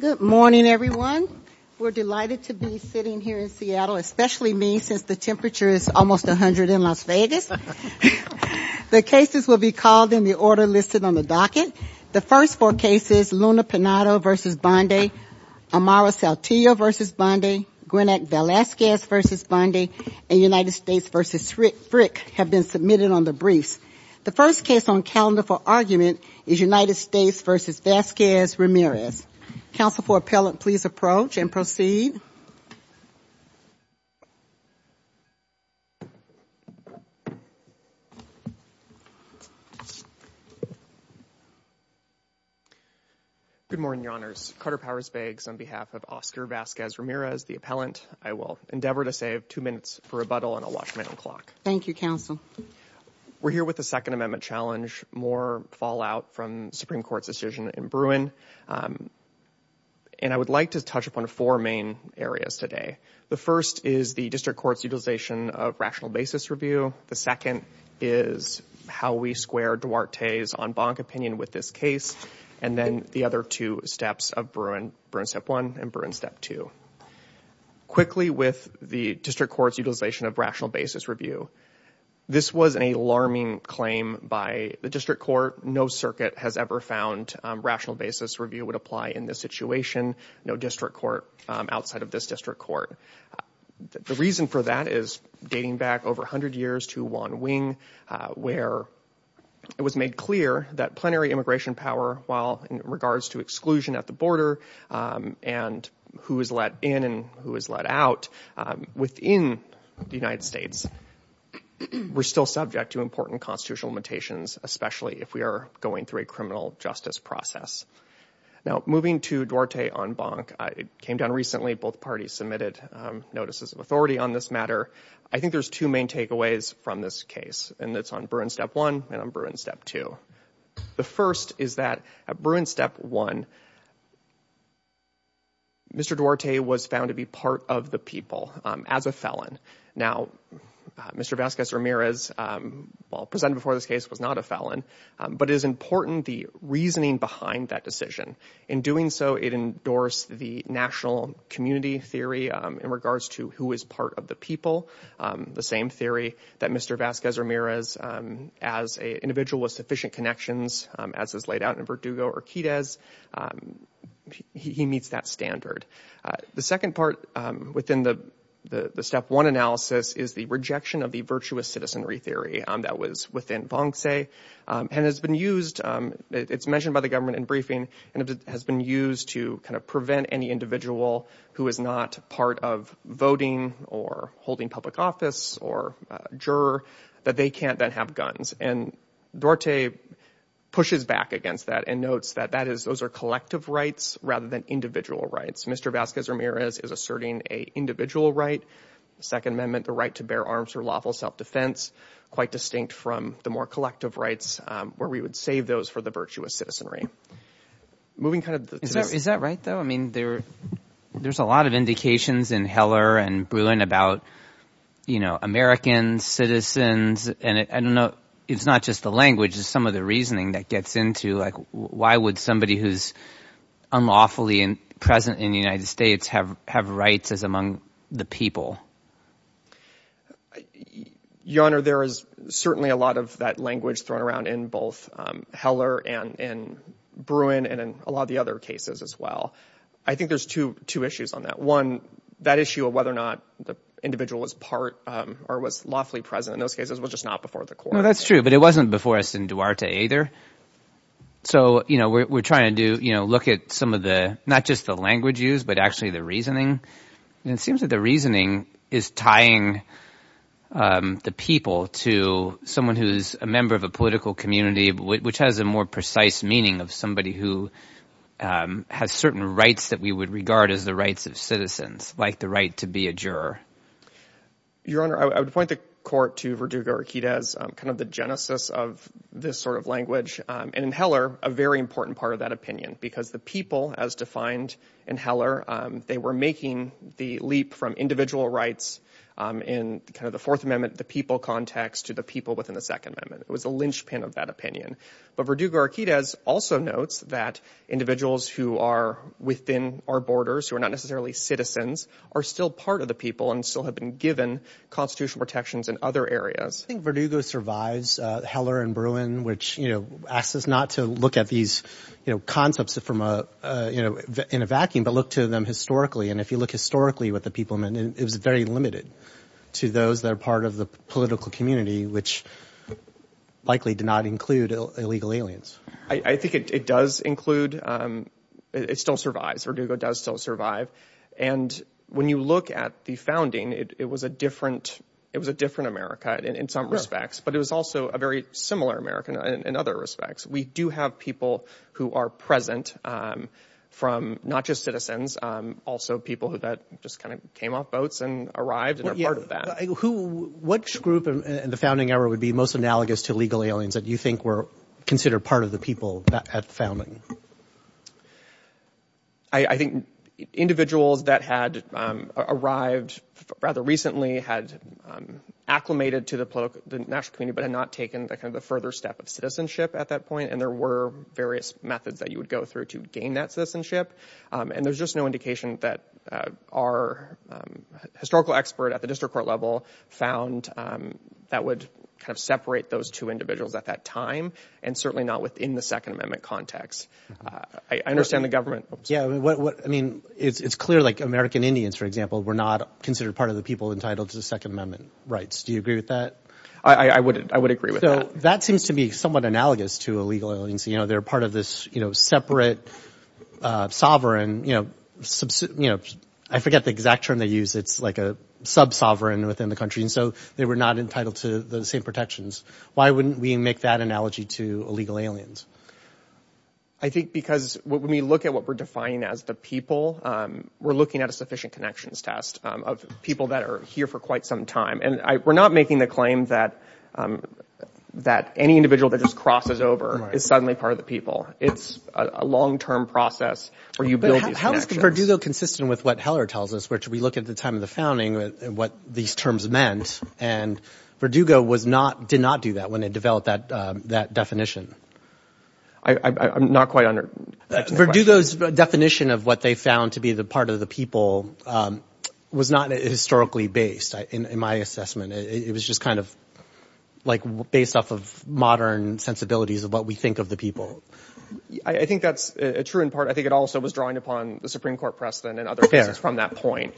Good morning everyone. We're delighted to be sitting here in Seattle, especially me since the temperature is almost a hundred in Las Vegas. The cases will be called in the order listed on the docket. The first four cases, Luna Penado v. Bondi, Amara Saltillo v. Bondi, Gwyneth Velazquez v. Bondi, and United States v. Frick have been submitted on the briefs. The first case on the calendar for argument is United States v. Vazquez-Ramirez. Counsel for appellant, please approach and proceed. Good morning, Your Honors. Carter Powers-Baggs on behalf of Oscar Vazquez-Ramirez, the appellant. I will endeavor to save two minutes for rebuttal and I'll watch my own clock. Thank you, Counsel. We're here with the Second Amendment challenge, more fallout from Supreme Court's decision in Bruin, and I would like to touch upon four main areas today. The first is the district court's utilization of rational basis review. The second is how we square Duarte's en banc opinion with this case, and then the other two steps of Bruin, Bruin Step 1 and Bruin Step 2. Quickly, with the district court's utilization of rational basis review, this was an alarming claim by the district court. No circuit has ever found rational basis review would apply in this situation. No district court outside of this district court. The reason for that is dating back over hundred years to Wan Wing, where it was made clear that plenary immigration power, while in regards to exclusion at the border and who is let in and who is let out within the United States, we're still subject to important constitutional limitations, especially if we are going through a criminal justice process. Now, moving to Duarte en banc, it came down recently, both parties submitted notices of authority on this matter. I think there's two main takeaways from this case, and it's on Bruin Step 1 and on Bruin Step 2. The as a felon. Now, Mr. Vazquez-Ramirez, while presented before this case, was not a felon, but it is important the reasoning behind that decision. In doing so, it endorsed the national community theory in regards to who is part of the people. The same theory that Mr. Vazquez-Ramirez, as an individual with sufficient connections, as is laid out in Verdugo or Quidez, he meets that standard. The second part within the Step 1 analysis is the rejection of the virtuous citizenry theory that was within Vonce and has been used, it's mentioned by the government in briefing, and it has been used to kind of prevent any individual who is not part of voting or holding public office or juror that they can't then have guns. And Duarte pushes back against that and notes that that is those are collective rights rather than individual rights. Mr. Vazquez-Ramirez is asserting a individual right, the Second Amendment, the right to bear arms or lawful self-defense, quite distinct from the more collective rights where we would save those for the virtuous citizenry. Moving kind of... Is that right though? I mean, there's a lot of indications in Heller and Bruin about, you know, American citizens and I don't know, it's not just the language, it's some of the reasoning that gets into, like, why would somebody who's unlawfully present in the United States have rights as among the people? Your Honor, there is certainly a lot of that language thrown around in both Heller and in Bruin and in a lot of the other cases as well. I think there's two issues on that. One, that issue of whether or not the individual was part or was lawfully present in those cases was just not before the court. No, that's true, but it wasn't before us in Duarte either. So, you know, we're trying to do, you know, look at some of the, not just the language used, but actually the reasoning and it seems that the reasoning is tying the people to someone who's a member of a political community, which has a more precise meaning of somebody who has certain rights that we would regard as the rights of citizens, like the right to be a juror. Your Honor, I would point the court to Verdugo-Riquidez, kind of the genesis of this sort of language, and in Heller, a very important part of that opinion, because the people, as defined in Heller, they were making the leap from individual rights in kind of the Fourth Amendment, the people context, to the people within the Second Amendment. It was a linchpin of that opinion, but Verdugo-Riquidez also notes that individuals who are within our borders, who are not necessarily citizens, are still part of the people and still have been given constitutional protections in other areas. I think Verdugo survives Heller and Bruin, which, you know, asks us not to look at these, you know, concepts from a, you know, in a vacuum, but look to them historically, and if you look historically what the people meant, it was very limited to those that are part of the political community, which likely did not include illegal aliens. I think it does include, it still survives, Verdugo does still survive, and when you look at the founding, it was a different, it was a different America in some respects, but it was also a very similar America in other respects. We do have people who are present from, not just citizens, also people who that just kind of came off boats and arrived and are part of that. Who, which group in the founding era would be most analogous to legal aliens that you think were considered part of the people at the founding? I think individuals that had arrived rather recently had acclimated to the national community, but had not taken the kind of the further step of citizenship at that point, and there were various methods that you would go through to gain that citizenship, and there's just no indication that our historical expert at the district court level found that would kind of separate those two individuals at that time, and certainly not within the Second Amendment context. I understand the government. Yeah, I mean, it's clear like American Indians, for example, were not considered part of the people entitled to the Second Amendment rights. Do you agree with that? I would, I would agree with that. So that seems to be somewhat analogous to illegal aliens, you know, they're part of this, you know, separate sovereign, you know, you know, I forget the exact term they use, it's like a sub-sovereign within the country, and so they were not entitled to the same protections. Why wouldn't we make that analogy to illegal aliens? I think because when we look at what we're defining as the people, we're looking at a sufficient connections test of people that are here for quite some time, and we're not making the claim that that any individual that just crosses over is suddenly part of the people. It's a long-term process where you build these connections. But how is Verdugo consistent with what Heller tells us, which we look at the time of the founding, what these terms meant, and Verdugo was not, did not do that when they developed that that definition. I'm not quite under... Verdugo's definition of what they found to be the part of the people was not historically based in my assessment. It was just kind of like based off of modern sensibilities of what we think of the people. I think that's true in part, I think it also was drawing upon the Supreme Court precedent and other cases from that point,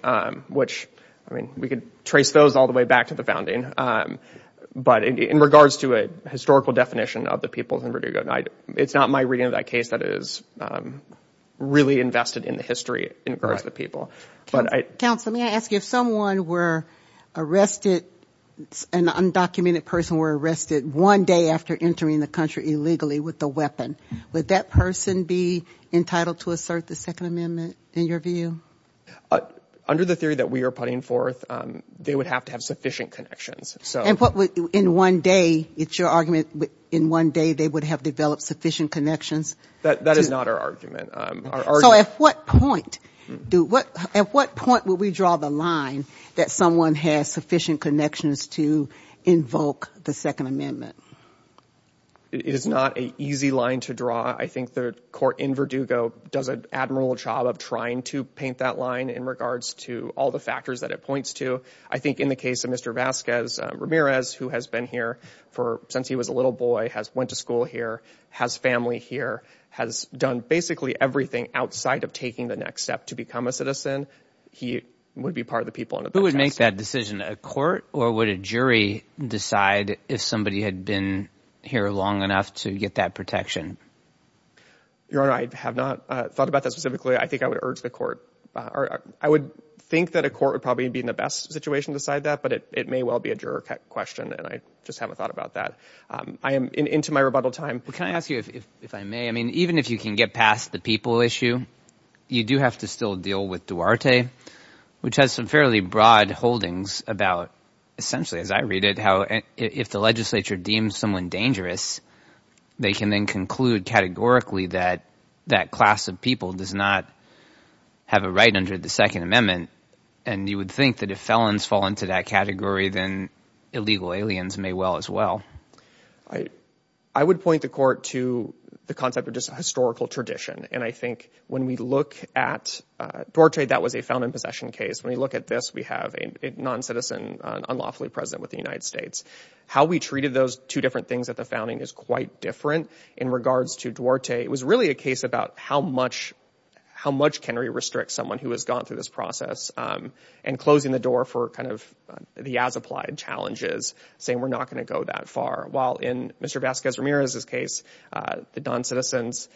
which, I mean, we could trace those all the way back to the founding, but in regards to a historical definition of the people in Verdugo, it's not my reading of that case that is really invested in the history in regards to the people. Counsel, may I ask you, if someone were arrested, an undocumented person were arrested one day after entering the country illegally with a weapon, would that person be entitled to assert the Second Amendment in your view? Under the theory that we are putting forth, they would have to have sufficient connections. And what would, in one day, it's your argument, in one day they would have developed sufficient connections? That is not our argument. So at what point, at what point would we draw the line that someone has sufficient connections to invoke the Second Amendment? It is not an easy line to draw. I think the court in Verdugo does an admirable job of trying to paint that line in regards to all the factors that it points to. I think in the case of Mr. Vasquez Ramirez, who has been here since he was a little boy, has went to school here, has family here, has done basically everything outside of taking the next step to become a citizen. He would be part of the people. Who would make that decision, a court or would a jury decide if somebody had been here long enough to get that protection? Your Honor, I have not thought about that specifically. I think I would urge the court or I would think that a court would probably be in the best situation to decide that. But it may well be a juror question. And I just haven't thought about that. I am into my rebuttal time. Well, can I ask you, if I may, even if you can get past the people issue, you do have to still deal with Duarte, which has some fairly broad holdings about essentially, as I read it, how if the legislature deems someone dangerous, they can then conclude categorically that that class of people does not have a right under the Second Amendment. And you would think that if felons fall into that category, then illegal aliens may well as well. I would point the court to the concept of just historical tradition. And I think when we look at Duarte, that was a found in possession case. When we look at this, we have a non-citizen unlawfully present with the United States. How we treated those two different things at the founding is quite different in regards to Duarte. It was really a case about how much can we restrict someone who has gone through this process and closing the door for kind of the as-applied challenges, saying we're not going to go that far. While in Mr. Vasquez-Ramirez's case, the non-citizens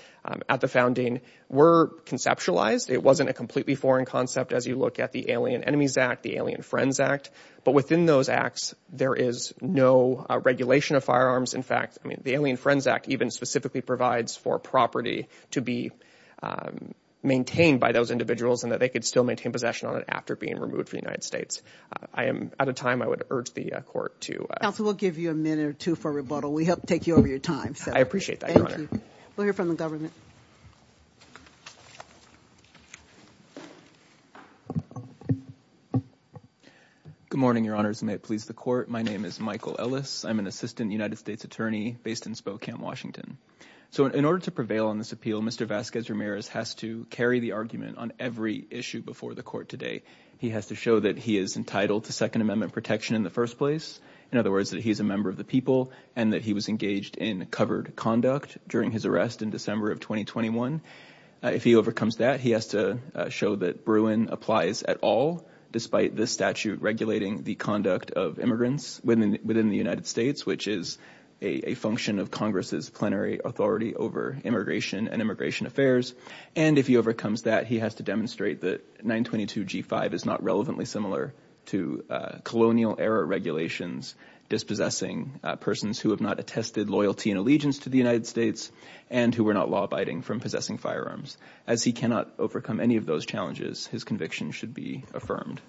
at the founding were conceptualized. It wasn't a completely foreign concept as you look at the Alien Enemies Act, the Alien Friends Act. But within those acts, there is no regulation of firearms. In fact, the Alien Friends Act even specifically provides for property to be maintained by those individuals and that they could still maintain possession on it after being removed from the United States. I am out of time. I would urge the court to— Counsel, we'll give you a minute or two for rebuttal. We hope to take you over your time. I appreciate that, Your Honor. Thank you. We'll hear from the government. Good morning, Your Honors, and may it please the court. My name is Michael Ellis. I'm an assistant United States attorney based in Spokane, Washington. So in order to prevail on this appeal, Mr. Vasquez-Ramirez has to carry the argument on every issue before the court today. He has to show that he is entitled to Second Amendment protection in the first place. In other words, that he is a member of the people and that he was engaged in covered conduct during his arrest in December of 2021. If he overcomes that, he has to show that Bruin applies at all, despite this statute regulating the conduct of immigrants within the United States, which is a function of Congress's plenary authority over immigration and immigration affairs. And if he overcomes that, he has to demonstrate that 922G5 is not relevantly similar to colonial-era regulations dispossessing persons who have not attested loyalty and allegiance to the United States and who were not law-abiding from possessing firearms. As he cannot overcome any of those challenges, his conviction should be affirmed.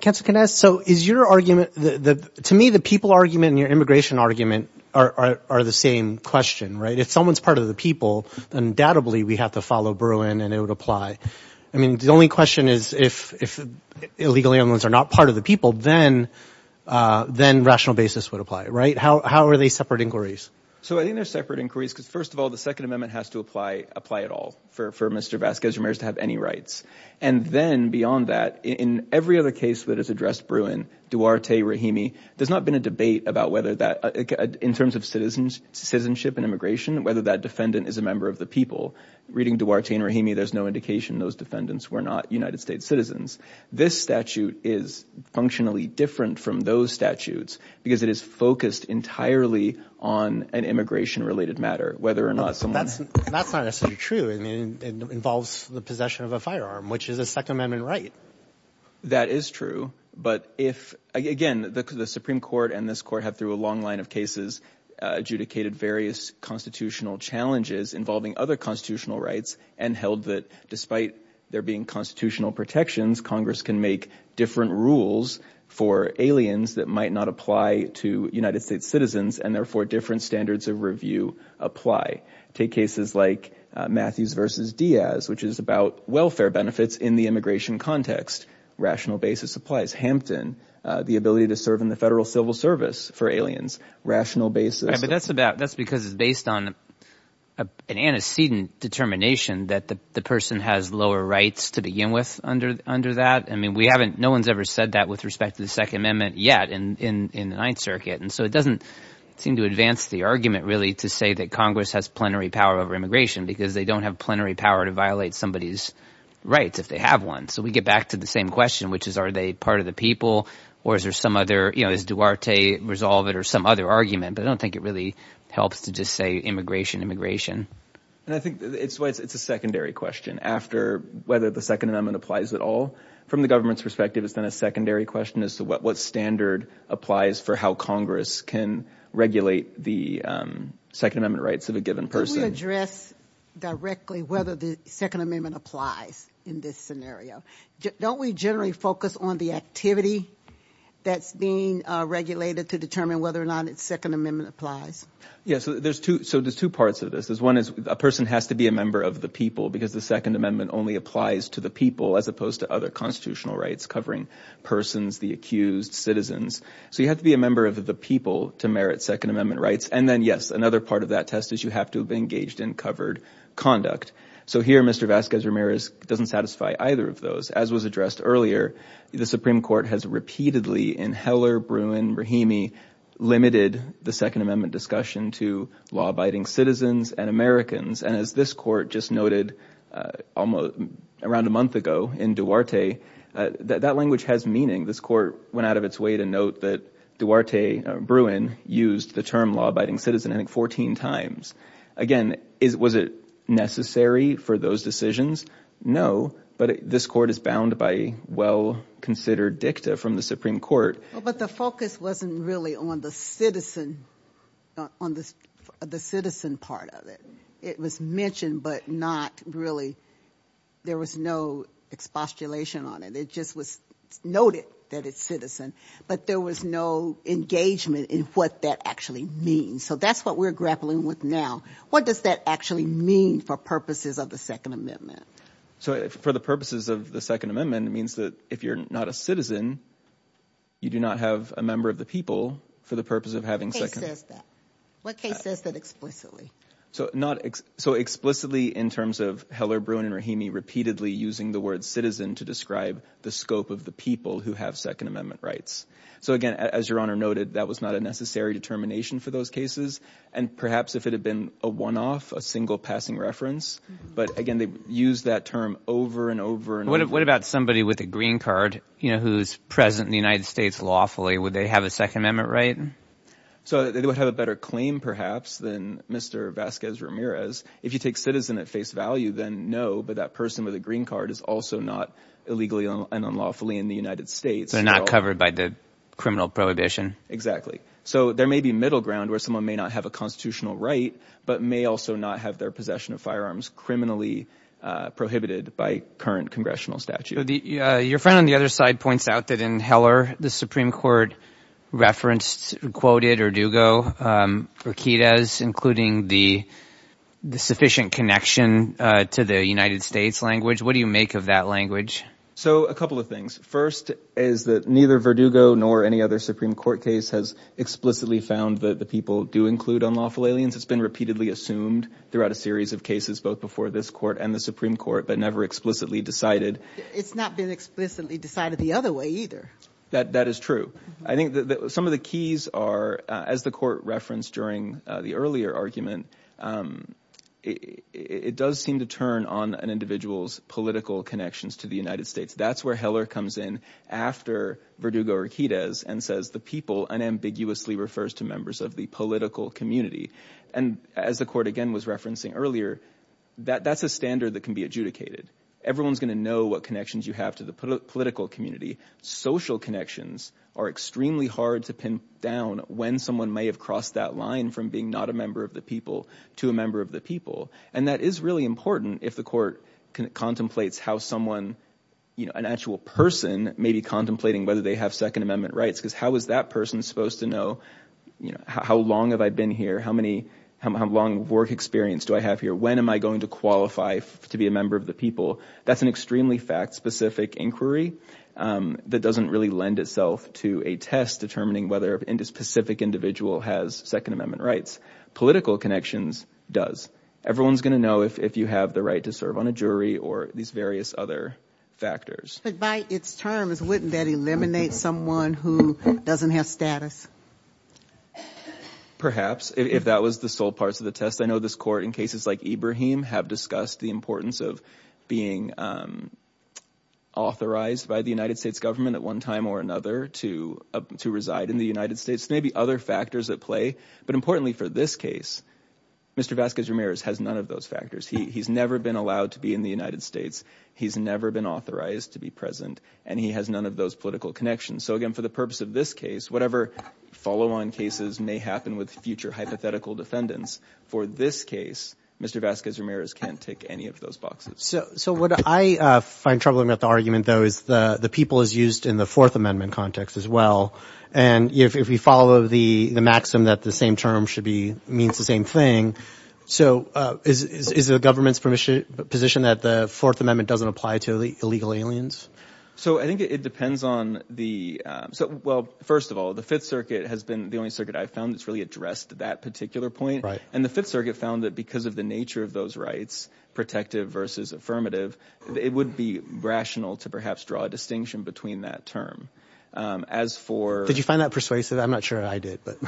Counsel, can I ask, so is your argument, to me, the people argument and your immigration argument are the same question, right? If someone's part of the people, undoubtedly we have to follow Bruin and it would apply. I mean, the only question is if illegal immigrants are not part of the people, then rational basis would apply, right? How are they separate inquiries? So I think they're separate inquiries because, first of all, the Second Amendment has to apply at all for Mr. Vasquez-Ramirez to have any rights. And then beyond that, in every other case that has addressed Bruin, Duarte, Rahimi, there's not been a debate about whether that, in terms of citizenship and immigration, whether that defendant is a member of the people. Reading Duarte and Rahimi, there's no indication those defendants were not United States citizens. This statute is functionally different from those statutes because it is focused entirely on an immigration-related matter, whether or not someone… But that's not necessarily true. I mean, it involves the possession of a firearm, which is a Second Amendment right. That is true. But if – again, the Supreme Court and this court have, through a long line of cases, adjudicated various constitutional challenges involving other constitutional rights and held that despite there being constitutional protections, Congress can make different rules for aliens that might not apply to United States citizens and therefore different standards of review apply. Take cases like Matthews v. Diaz, which is about welfare benefits in the immigration context. Rational basis applies. Hampton, the ability to serve in the federal civil service for aliens. Rational basis… But that's because it's based on an antecedent determination that the person has lower rights to begin with under that. I mean, we haven't – no one's ever said that with respect to the Second Amendment yet in the Ninth Circuit. And so it doesn't seem to advance the argument really to say that Congress has plenary power over immigration because they don't have plenary power to violate somebody's rights if they have one. So we get back to the same question, which is are they part of the people or is there some other – does Duarte resolve it or some other argument? But I don't think it really helps to just say immigration, immigration. I think it's a secondary question after whether the Second Amendment applies at all. From the government's perspective, it's then a secondary question as to what standard applies for how Congress can regulate the Second Amendment rights of a given person. Can we address directly whether the Second Amendment applies in this scenario? Don't we generally focus on the activity that's being regulated to determine whether or not the Second Amendment applies? Yeah, so there's two parts of this. One is a person has to be a member of the people because the Second Amendment only applies to the people as opposed to other constitutional rights covering persons, the accused, citizens. So you have to be a member of the people to merit Second Amendment rights. And then, yes, another part of that test is you have to be engaged in covered conduct. So here Mr. Vasquez-Ramirez doesn't satisfy either of those. As was addressed earlier, the Supreme Court has repeatedly in Heller, Bruin, Rahimi limited the Second Amendment discussion to law-abiding citizens and Americans. And as this court just noted around a month ago in Duarte, that language has meaning. This court went out of its way to note that Duarte, Bruin, used the term law-abiding citizen 14 times. Again, was it necessary for those decisions? No, but this court is bound by well-considered dicta from the Supreme Court. But the focus wasn't really on the citizen part of it. It was mentioned but not really, there was no expostulation on it. It just was noted that it's citizen, but there was no engagement in what that actually means. So that's what we're grappling with now. What does that actually mean for purposes of the Second Amendment? So for the purposes of the Second Amendment, it means that if you're not a citizen, you do not have a member of the people for the purpose of having Second Amendment. What case says that explicitly? So explicitly in terms of Heller, Bruin, and Rahimi repeatedly using the word citizen to describe the scope of the people who have Second Amendment rights. So again, as Your Honor noted, that was not a necessary determination for those cases, and perhaps if it had been a one-off, a single passing reference. But again, they used that term over and over and over. What about somebody with a green card who's present in the United States lawfully? Would they have a Second Amendment right? So they would have a better claim perhaps than Mr. Vasquez Ramirez. If you take citizen at face value, then no, but that person with a green card is also not illegally and unlawfully in the United States. They're not covered by the criminal prohibition. Exactly. So there may be middle ground where someone may not have a constitutional right, but may also not have their possession of firearms criminally prohibited by current congressional statute. Your friend on the other side points out that in Heller, the Supreme Court referenced, quoted Verdugo, Riquidez, including the sufficient connection to the United States language. What do you make of that language? So a couple of things. First is that neither Verdugo nor any other Supreme Court case has explicitly found that the people do include unlawful aliens. It's been repeatedly assumed throughout a series of cases, both before this court and the Supreme Court, but never explicitly decided. It's not been explicitly decided the other way either. That is true. I think some of the keys are, as the court referenced during the earlier argument, it does seem to turn on an individual's political connections to the United States. That's where Heller comes in after Verdugo or Riquidez and says the people unambiguously refers to members of the political community. And as the court, again, was referencing earlier, that's a standard that can be adjudicated. Everyone's going to know what connections you have to the political community. Social connections are extremely hard to pin down when someone may have crossed that line from being not a member of the people to a member of the people. And that is really important if the court contemplates how someone, an actual person may be contemplating whether they have Second Amendment rights because how is that person supposed to know how long have I been here, how long of work experience do I have here, when am I going to qualify to be a member of the people? That's an extremely fact-specific inquiry that doesn't really lend itself to a test determining whether a specific individual has Second Amendment rights. Political connections does. Everyone's going to know if you have the right to serve on a jury or these various other factors. But by its terms, wouldn't that eliminate someone who doesn't have status? Perhaps, if that was the sole part of the test. I know this court, in cases like Ibrahim, have discussed the importance of being authorized by the United States government at one time or another to reside in the United States. There may be other factors at play. But importantly for this case, Mr. Vasquez-Ramirez has none of those factors. He's never been allowed to be in the United States. He's never been authorized to be present. And he has none of those political connections. So again, for the purpose of this case, whatever follow-on cases may happen with future hypothetical defendants, for this case, Mr. Vasquez-Ramirez can't tick any of those boxes. So what I find troubling about the argument, though, is the people is used in the Fourth Amendment context as well. And if we follow the maxim that the same term means the same thing, so is it the government's position that the Fourth Amendment doesn't apply to illegal aliens? So I think it depends on the... Well, first of all, the Fifth Circuit has been the only circuit I've found that's really addressed that particular point. And the Fifth Circuit found that because of the nature of those rights, protective versus affirmative, it would be rational to perhaps draw a distinction between that term. As for... Did you find that persuasive? I'm not sure I did, but...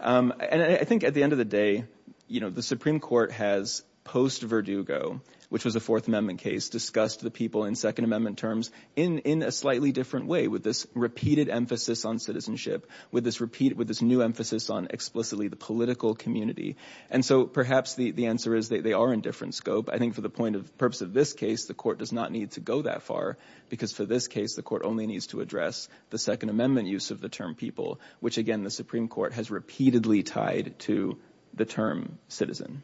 And I think at the end of the day, you know, the Supreme Court has, post-Verdugo, which was a Fourth Amendment case, discussed the people in Second Amendment terms in a slightly different way, with this repeated emphasis on citizenship, with this new emphasis on explicitly the political community. And so perhaps the answer is they are in different scope. I think for the purpose of this case, the court does not need to go that far, because for this case, the court only needs to address the Second Amendment use of the term people, which, again, the Supreme Court has repeatedly tied to the term citizen.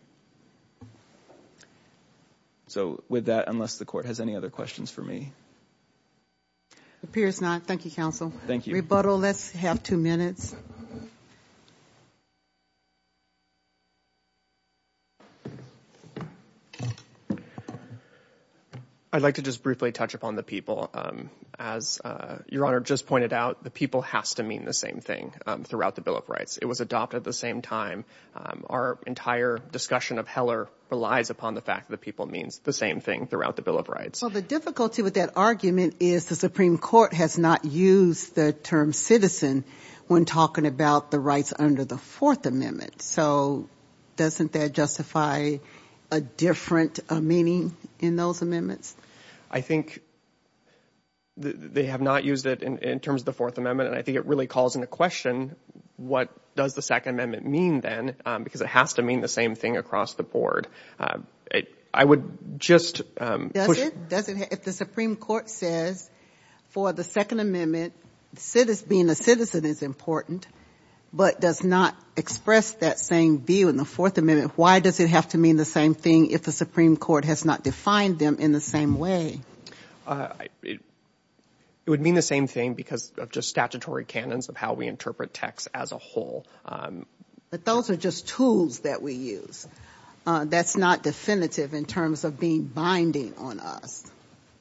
So with that, unless the court has any other questions for me... Appears not. Thank you, counsel. Thank you. Rebuttal. Let's have two minutes. I'd like to just briefly touch upon the people. As Your Honour just pointed out, the people has to mean the same thing throughout the Bill of Rights. It was adopted at the same time. Our entire discussion of Heller relies upon the fact that the people means the same thing throughout the Bill of Rights. Well, the difficulty with that argument is the Supreme Court has not used the term citizen when talking about the rights under the Fourth Amendment. So doesn't that justify a different meaning in those amendments? I think they have not used it in terms of the Fourth Amendment, and I think it really calls into question what does the Second Amendment mean then, because it has to mean the same thing across the board. I would just... Does it? If the Supreme Court says for the Second Amendment, being a citizen is important, but does not express that same view in the Fourth Amendment, why does it have to mean the same thing if the Supreme Court has not defined them in the same way? It would mean the same thing because of just statutory canons of how we interpret text as a whole. But those are just tools that we use. That's not definitive in terms of being binding on us.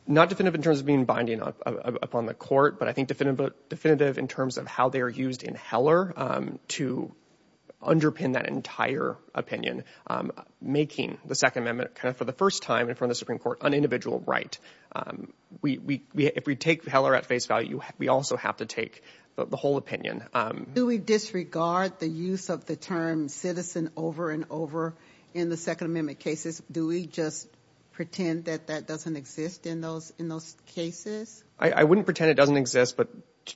Not definitive in terms of being binding upon the Court, but I think definitive in terms of how they are used in Heller to underpin that entire opinion, making the Second Amendment kind of, for the first time in front of the Supreme Court, an individual right. If we take Heller at face value, we also have to take the whole opinion. Do we disregard the use of the term citizen over and over in the Second Amendment cases? Do we just pretend that that doesn't exist in those cases? I wouldn't pretend it doesn't exist, but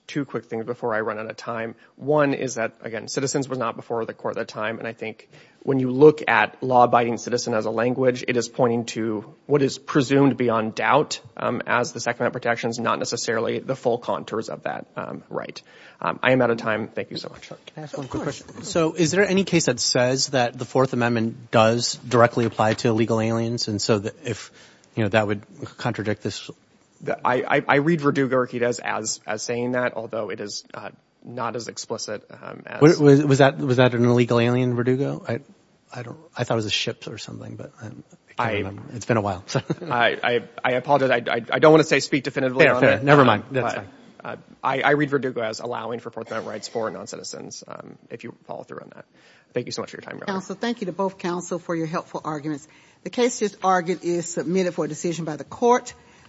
two quick things before I run out of time. One is that, again, citizens was not before the Court at the time, and I think when you look at law-abiding citizen as a language, it is pointing to what is presumed beyond doubt as the Second Amendment protections, not necessarily the full contours of that right. I am out of time. Thank you so much. Can I ask one quick question? Is there any case that says that the Fourth Amendment does directly apply to illegal aliens, and so that would contradict this? I read Verdugo-Riquidez as saying that, although it is not as explicit as... Was that an illegal alien, Verdugo? I thought it was a ship or something, but it's been a while. I apologize. I don't want to speak definitively on that. Never mind. I read Verdugo as allowing for Fourth Amendment rights for noncitizens, if you would follow through on that. Thank you so much for your time. Counsel, thank you to both counsel for your helpful arguments. The case just argued is submitted for a decision by the Court.